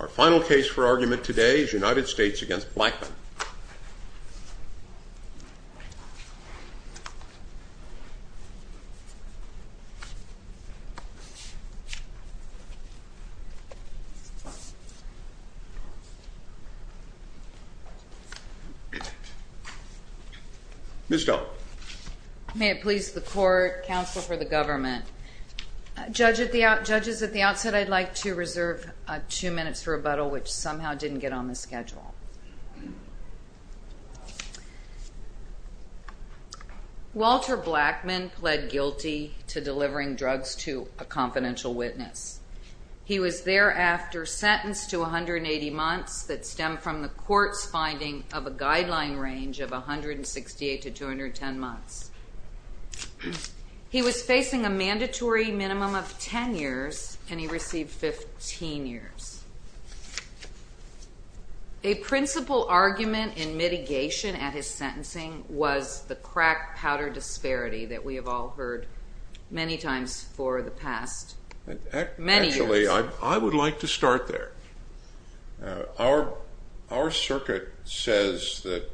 Our final case for argument today is United States v. Blackman. Ms. Stone. May it please the Court, Counsel for the Government. Judges, at the outset I'd like to reserve two minutes for rebuttal, which somehow didn't get on the schedule. Walter Blackman pled guilty to delivering drugs to a confidential witness. He was thereafter sentenced to 180 months that stemmed from the Court's finding of a guideline range of 168 to 210 months. He was facing a mandatory minimum of 10 years, and he received 15 years. A principal argument in mitigation at his sentencing was the crack-powder disparity that we have all heard many times for the past many years. Actually, I would like to start there. Our circuit says that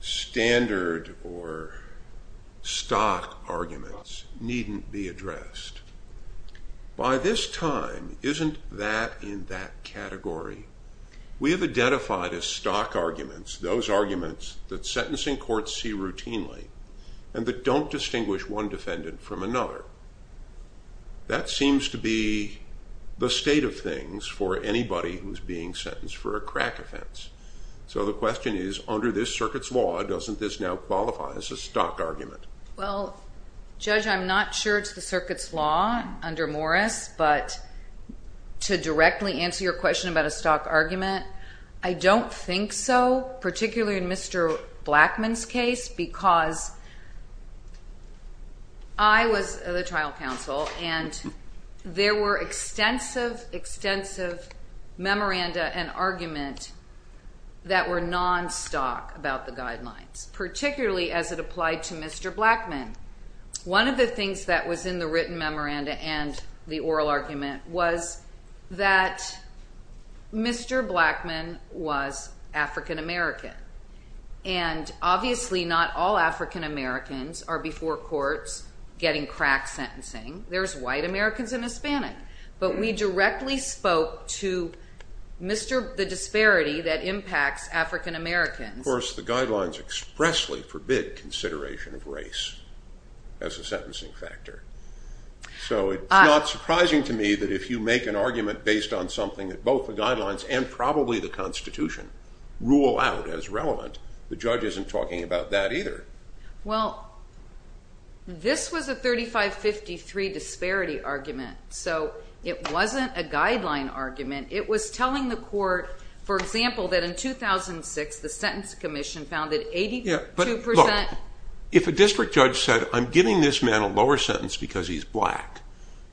standard or stock arguments needn't be addressed. By this time, isn't that in that category? We have identified as stock arguments those arguments that sentencing courts see routinely and that don't distinguish one defendant from another. That seems to be the state of things for anybody who's being sentenced for a crack offense. So the question is, under this circuit's law, doesn't this now qualify as a stock argument? Well, Judge, I'm not sure it's the circuit's law under Morris, but to directly answer your question about a stock argument, I don't think so, particularly in Mr. Blackman's case. Because I was the trial counsel, and there were extensive, extensive memoranda and argument that were non-stock about the guidelines, particularly as it applied to Mr. Blackman. One of the things that was in the written memoranda and the oral argument was that Mr. Blackman was African-American, and obviously not African-American. Not all African-Americans are before courts getting crack sentencing. There's white Americans and Hispanic. But we directly spoke to the disparity that impacts African-Americans. Of course, the guidelines expressly forbid consideration of race as a sentencing factor. So it's not surprising to me that if you make an argument based on something that both the guidelines and probably the Constitution rule out as relevant, the judge isn't talking about that either. Well, this was a 35-53 disparity argument. So it wasn't a guideline argument. It was telling the court, for example, that in 2006, the Sentence Commission found that 82 percent... Look, if a district judge said, I'm giving this man a lower sentence because he's black,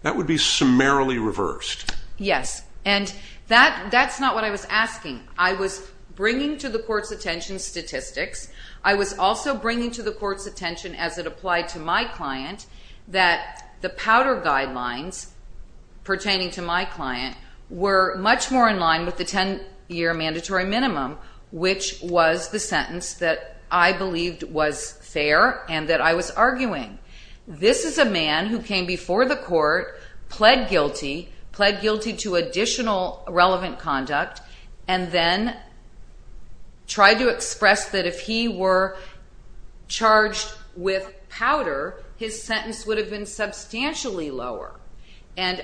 that would be summarily reversed. Yes, and that's not what I was asking. I was bringing to the court's attention statistics. I was also bringing to the court's attention as it applied to my client that the powder guidelines pertaining to my client were much more in line with the 10-year mandatory minimum, which was the sentence that I believed was fair and that I was arguing. This is a man who came before the court, pled guilty, pled guilty to additional relevant conduct, and that's what I was arguing. And then tried to express that if he were charged with powder, his sentence would have been substantially lower. And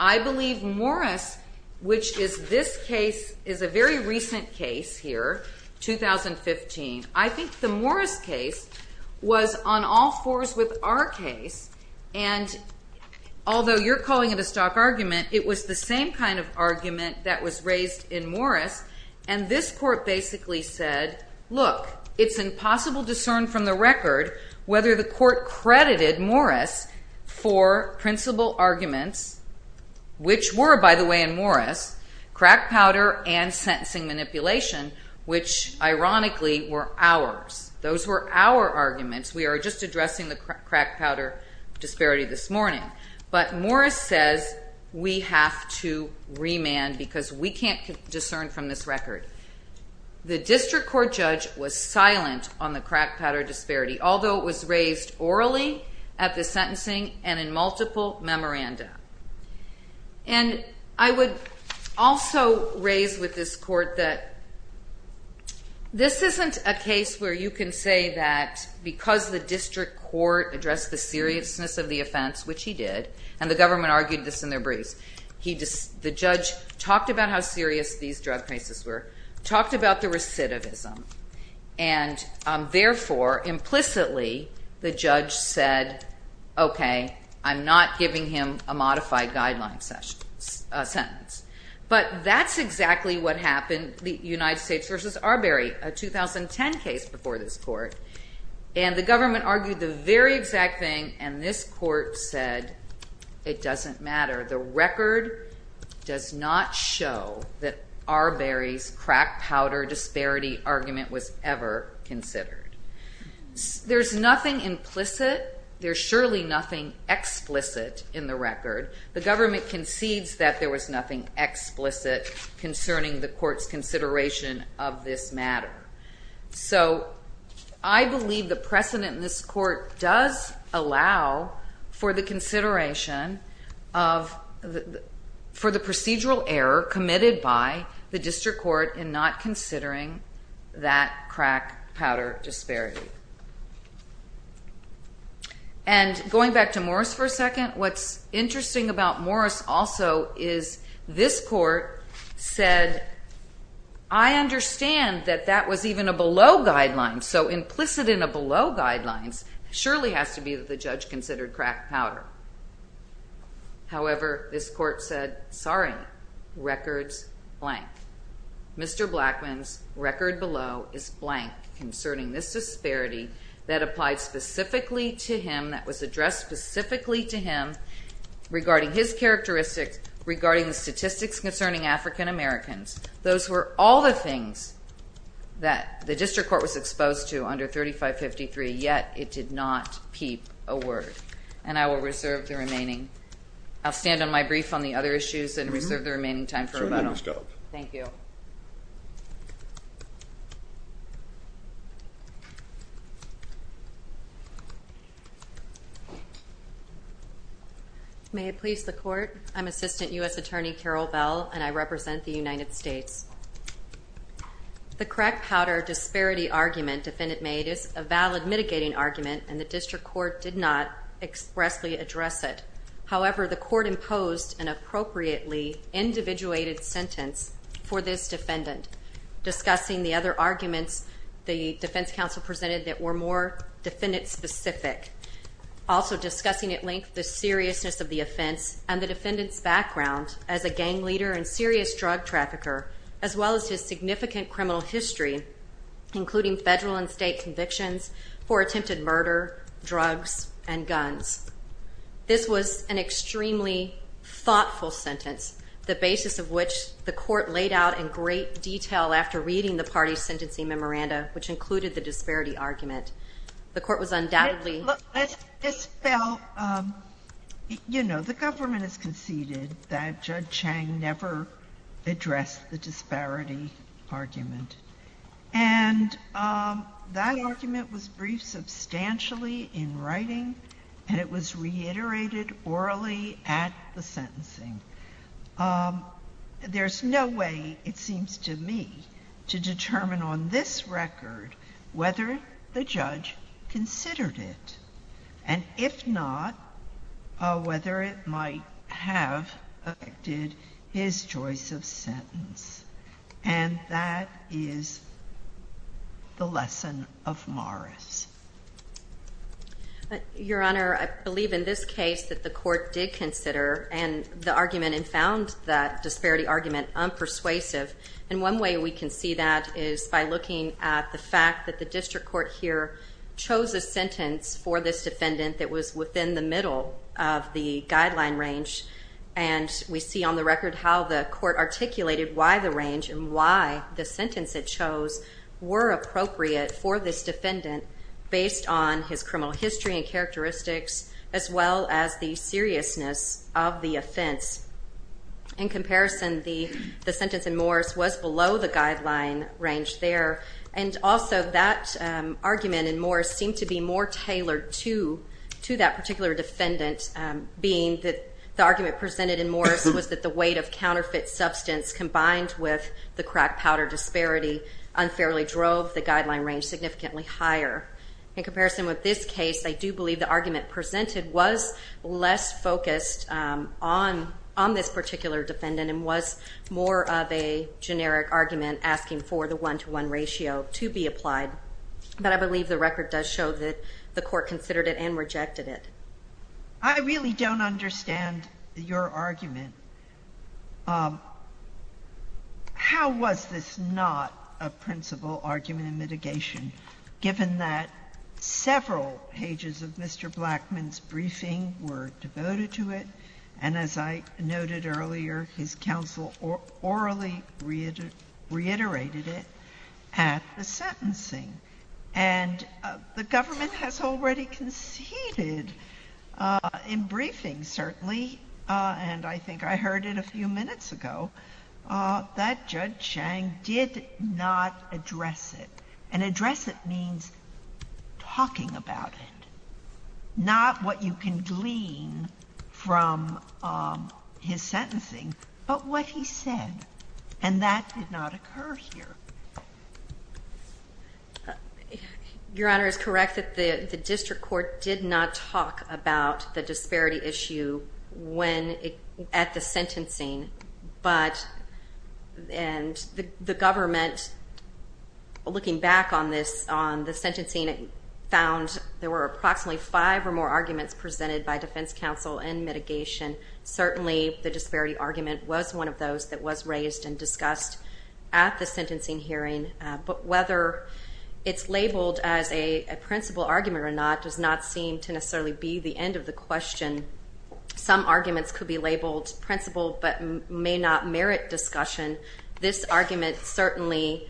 I believe Morris, which is this case, is a very recent case here, 2015. I think the Morris case was on all fours with our case. And although you're calling it a stock argument, it was the same kind of argument that was raised in Morris. And this court basically said, look, it's impossible to discern from the record whether the court credited Morris for principal arguments, which were, by the way, in Morris, crack powder and sentencing manipulation, which ironically were ours. Those were our arguments. We are just addressing the crack powder disparity this morning. But Morris says we have to remand because we can't discern from this record. The district court judge was silent on the crack powder disparity, although it was raised orally at the sentencing and in multiple memoranda. And I would also raise with this court that this isn't a case where you can say that because the district court addressed the seriousness of the offense, which he did, and the government argued this in their briefs, the judge talked about how serious these drug cases were, talked about the recidivism, and therefore, implicitly, the judge said, okay, I'm not giving him a modified guideline sentence. But that's exactly what happened, the United States versus Arbery, a 2010 case before this court. And the government argued the very exact thing, and this court said it doesn't matter. The record does not show that Arbery's crack powder disparity argument was ever considered. There's nothing implicit, there's surely nothing explicit in the record. The government concedes that there was nothing explicit concerning the court's consideration of this matter. So I believe the precedent in this court does allow for the consideration of the procedural error committed by the district court in not considering that crack powder disparity. And going back to Morris for a second, what's interesting about Morris also is this court said, I understand that that was even a below guideline, so implicit in a below guideline surely has to be that the judge considered crack powder. However, this court said, sorry, record's blank. Mr. Blackman's record below is blank concerning this disparity that applied specifically to him, that was addressed specifically to him regarding his characteristics, regarding the statistics concerning African Americans. Those were all the things that the district court was exposed to under 3553, yet it did not peep a word. And I will reserve the remaining, I'll stand on my brief on the other issues and reserve the remaining time for rebuttal. Thank you. May it please the court, I'm Assistant U.S. Attorney Carol Bell and I represent the United States. The crack powder disparity argument defendant made is a valid mitigating argument and the district court did not expressly address it. However, the court imposed an appropriately individuated sentence for this defendant, discussing the other arguments the defense counsel presented that were more defendant specific. Also discussing at length the seriousness of the offense and the defendant's background as a gang leader and serious drug trafficker, as well as his significant criminal history, including federal and state convictions for attempted murder, drugs, and guns. This was an extremely thoughtful sentence, the basis of which the court laid out in great detail after reading the party's sentencing memoranda, which included the disparity argument. The court was undoubtedly... Ms. Bell, you know, the government has conceded that Judge Chang never addressed the disparity argument. And that argument was briefed substantially in writing and it was reiterated orally at the sentencing. There's no way, it seems to me, to determine on this record whether the judge considered it. And if not, whether it might have affected his choice of sentence. And that is the lesson of Morris. Your Honor, I believe in this case that the court did consider the argument and found that disparity argument unpersuasive. And one way we can see that is by looking at the fact that the district court here chose a sentence for this defendant that was within the middle of the guideline range. And we see on the record how the court articulated why the range and why the sentence it chose were appropriate for this defendant based on his criminal history and characteristics as well as the seriousness of the offense. In comparison, the sentence in Morris was below the guideline range there. And also that argument in Morris seemed to be more tailored to that particular defendant, being that the argument presented in Morris was that the weight of counterfeit substance combined with the crack powder disparity unfairly drove the guideline range significantly higher. In comparison with this case, I do believe the argument presented was less focused on this particular defendant and was more of a generic argument asking for the one-to-one ratio to be applied. But I believe the record does show that the court considered it and rejected it. I really don't understand your argument. How was this not a principal argument in mitigation, given that several pages of Mr. Blackman's briefing were devoted to it, and as I noted earlier, his counsel orally reiterated it at the sentencing. And the government has already conceded in briefing, certainly, and I think I heard it a few minutes ago, that Judge Chang did not address it. And address it means talking about it, not what you can glean from his sentencing, but what he said, and that did not occur here. Your Honor, it's correct that the district court did not talk about the disparity issue at the sentencing, and the government, looking back on this, on the sentencing, found there were approximately five or more arguments presented by defense counsel in mitigation. Certainly, the disparity argument was one of those that was raised and discussed at the sentencing hearing, but whether it's labeled as a principal argument or not does not seem to necessarily be the end of the question. Some arguments could be labeled principal but may not merit discussion. This argument certainly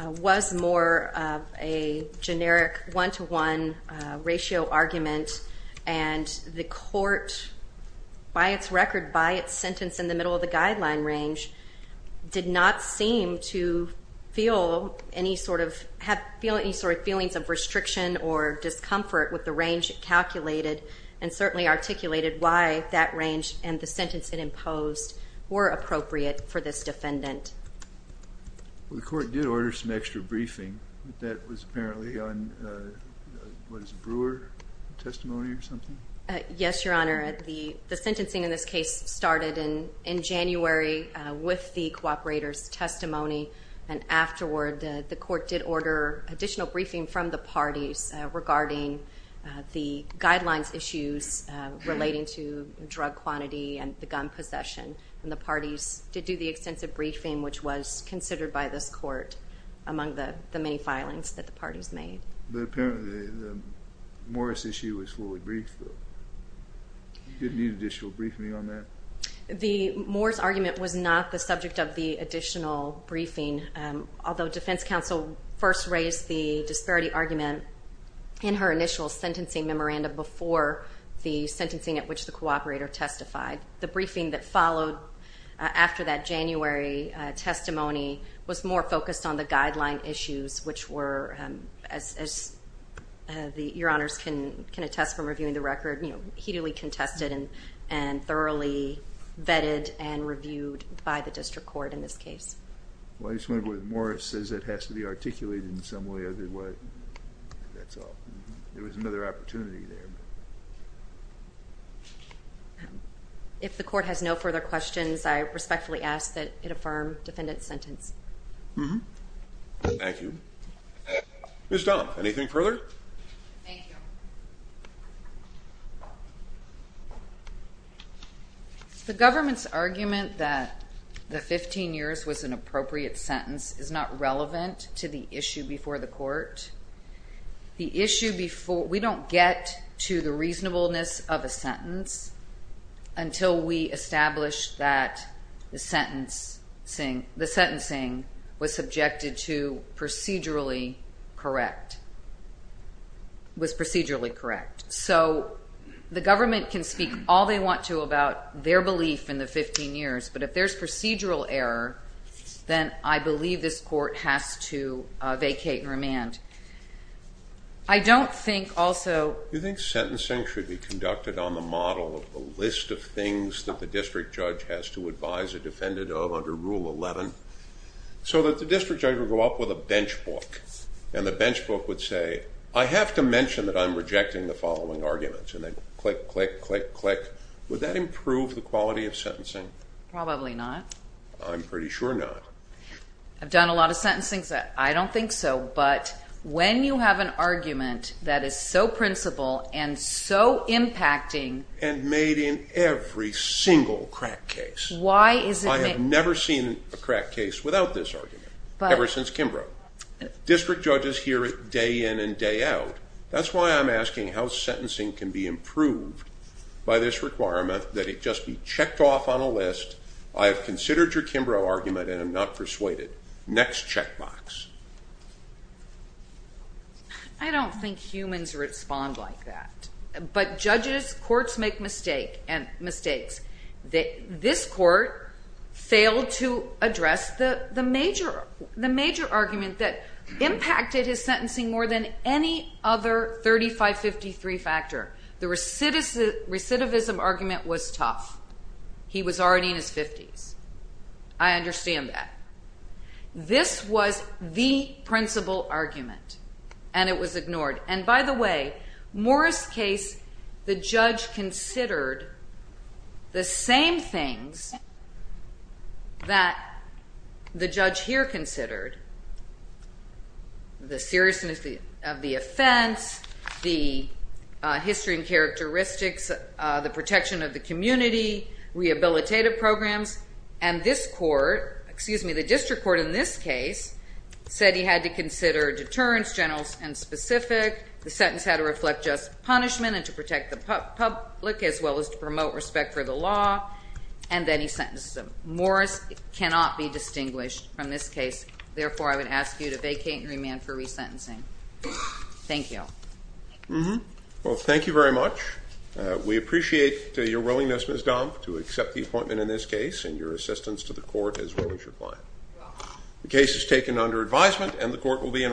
was more of a generic one-to-one ratio argument, and the court, by its record, by its sentence in the middle of the guideline range, did not seem to have any sort of feelings of restriction or discomfort with the range it calculated, and certainly articulated why that range and the sentence it imposed were appropriate for this defendant. The court did order some extra briefing. That was apparently on, what is it, the Brewer testimony or something? Yes, Your Honor. The sentencing in this case started in January with the cooperator's testimony, and afterward the court did order additional briefing from the parties regarding the guidelines issues relating to drug quantity and the gun possession, and the parties did do the extensive briefing, which was considered by this court among the many filings that the parties made. But apparently the Morris issue was fully briefed. Did it need additional briefing on that? The Morris argument was not the subject of the additional briefing, although defense counsel first raised the disparity argument in her initial sentencing memorandum before the sentencing at which the cooperator testified. The briefing that was on the guideline issues, which were, as Your Honors can attest from reviewing the record, heatily contested and thoroughly vetted and reviewed by the district court in this case. Well, I just want to go with Morris says it has to be articulated in some way, other way. That's all. There was another opportunity there. If the court has no further questions, I respectfully ask that it affirm defendant's sentence. Thank you. Ms. Dunham, anything further? Thank you. The government's argument that the 15 years was an appropriate sentence is not relevant to the issue before the court. We don't get to the reasonableness of a sentence until we establish that the sentencing was subjected to procedurally correct, was procedurally correct. So the government can speak all they want to about their belief in the 15 years, but if there's procedural error, then I believe this court has to I think sentencing should be conducted on the model of the list of things that the district judge has to advise a defendant of under Rule 11, so that the district judge would go up with a bench book, and the bench book would say, I have to mention that I'm rejecting the following arguments, and they would click, click, click, click. Would that improve the quality of sentencing? Probably not. I'm pretty sure not. I've done a lot of sentencing, I don't think so, but when you have an argument that is so principled and so impacting. And made in every single crack case. I have never seen a crack case without this argument, ever since Kimbrough. District judges hear it day in and day out. That's why I'm asking how sentencing can be improved by this requirement, that it just be checked off on a list, I have considered your Kimbrough argument, and I'm not persuaded. Next check box. I don't think humans respond like that. But judges, courts make mistakes. This court failed to address the major argument that impacted his sentencing more than any other 3553 factor. The recidivism argument was tough. He was already in his 50s. I understand that. This was the principle argument, and it was ignored. And by the way, Morris case, the judge considered the same things that the judge here considered. The seriousness of the offense, the history and characteristics, the protection of the community, rehabilitative programs. And this court, excuse me, the district court in this case, said he had to consider deterrence, general and specific. The sentence had to reflect just punishment and to protect the public as well as to promote respect for the law. And then he sentenced him. Morris cannot be distinguished from this case. Therefore, I would ask you to vacate and remand for resentencing. Thank you. Well, thank you very much. We appreciate your willingness, Ms. Dom, to accept the appointment in this case and your assistance to the court as well as your client. The case is taken under advisement and the court will be in recess.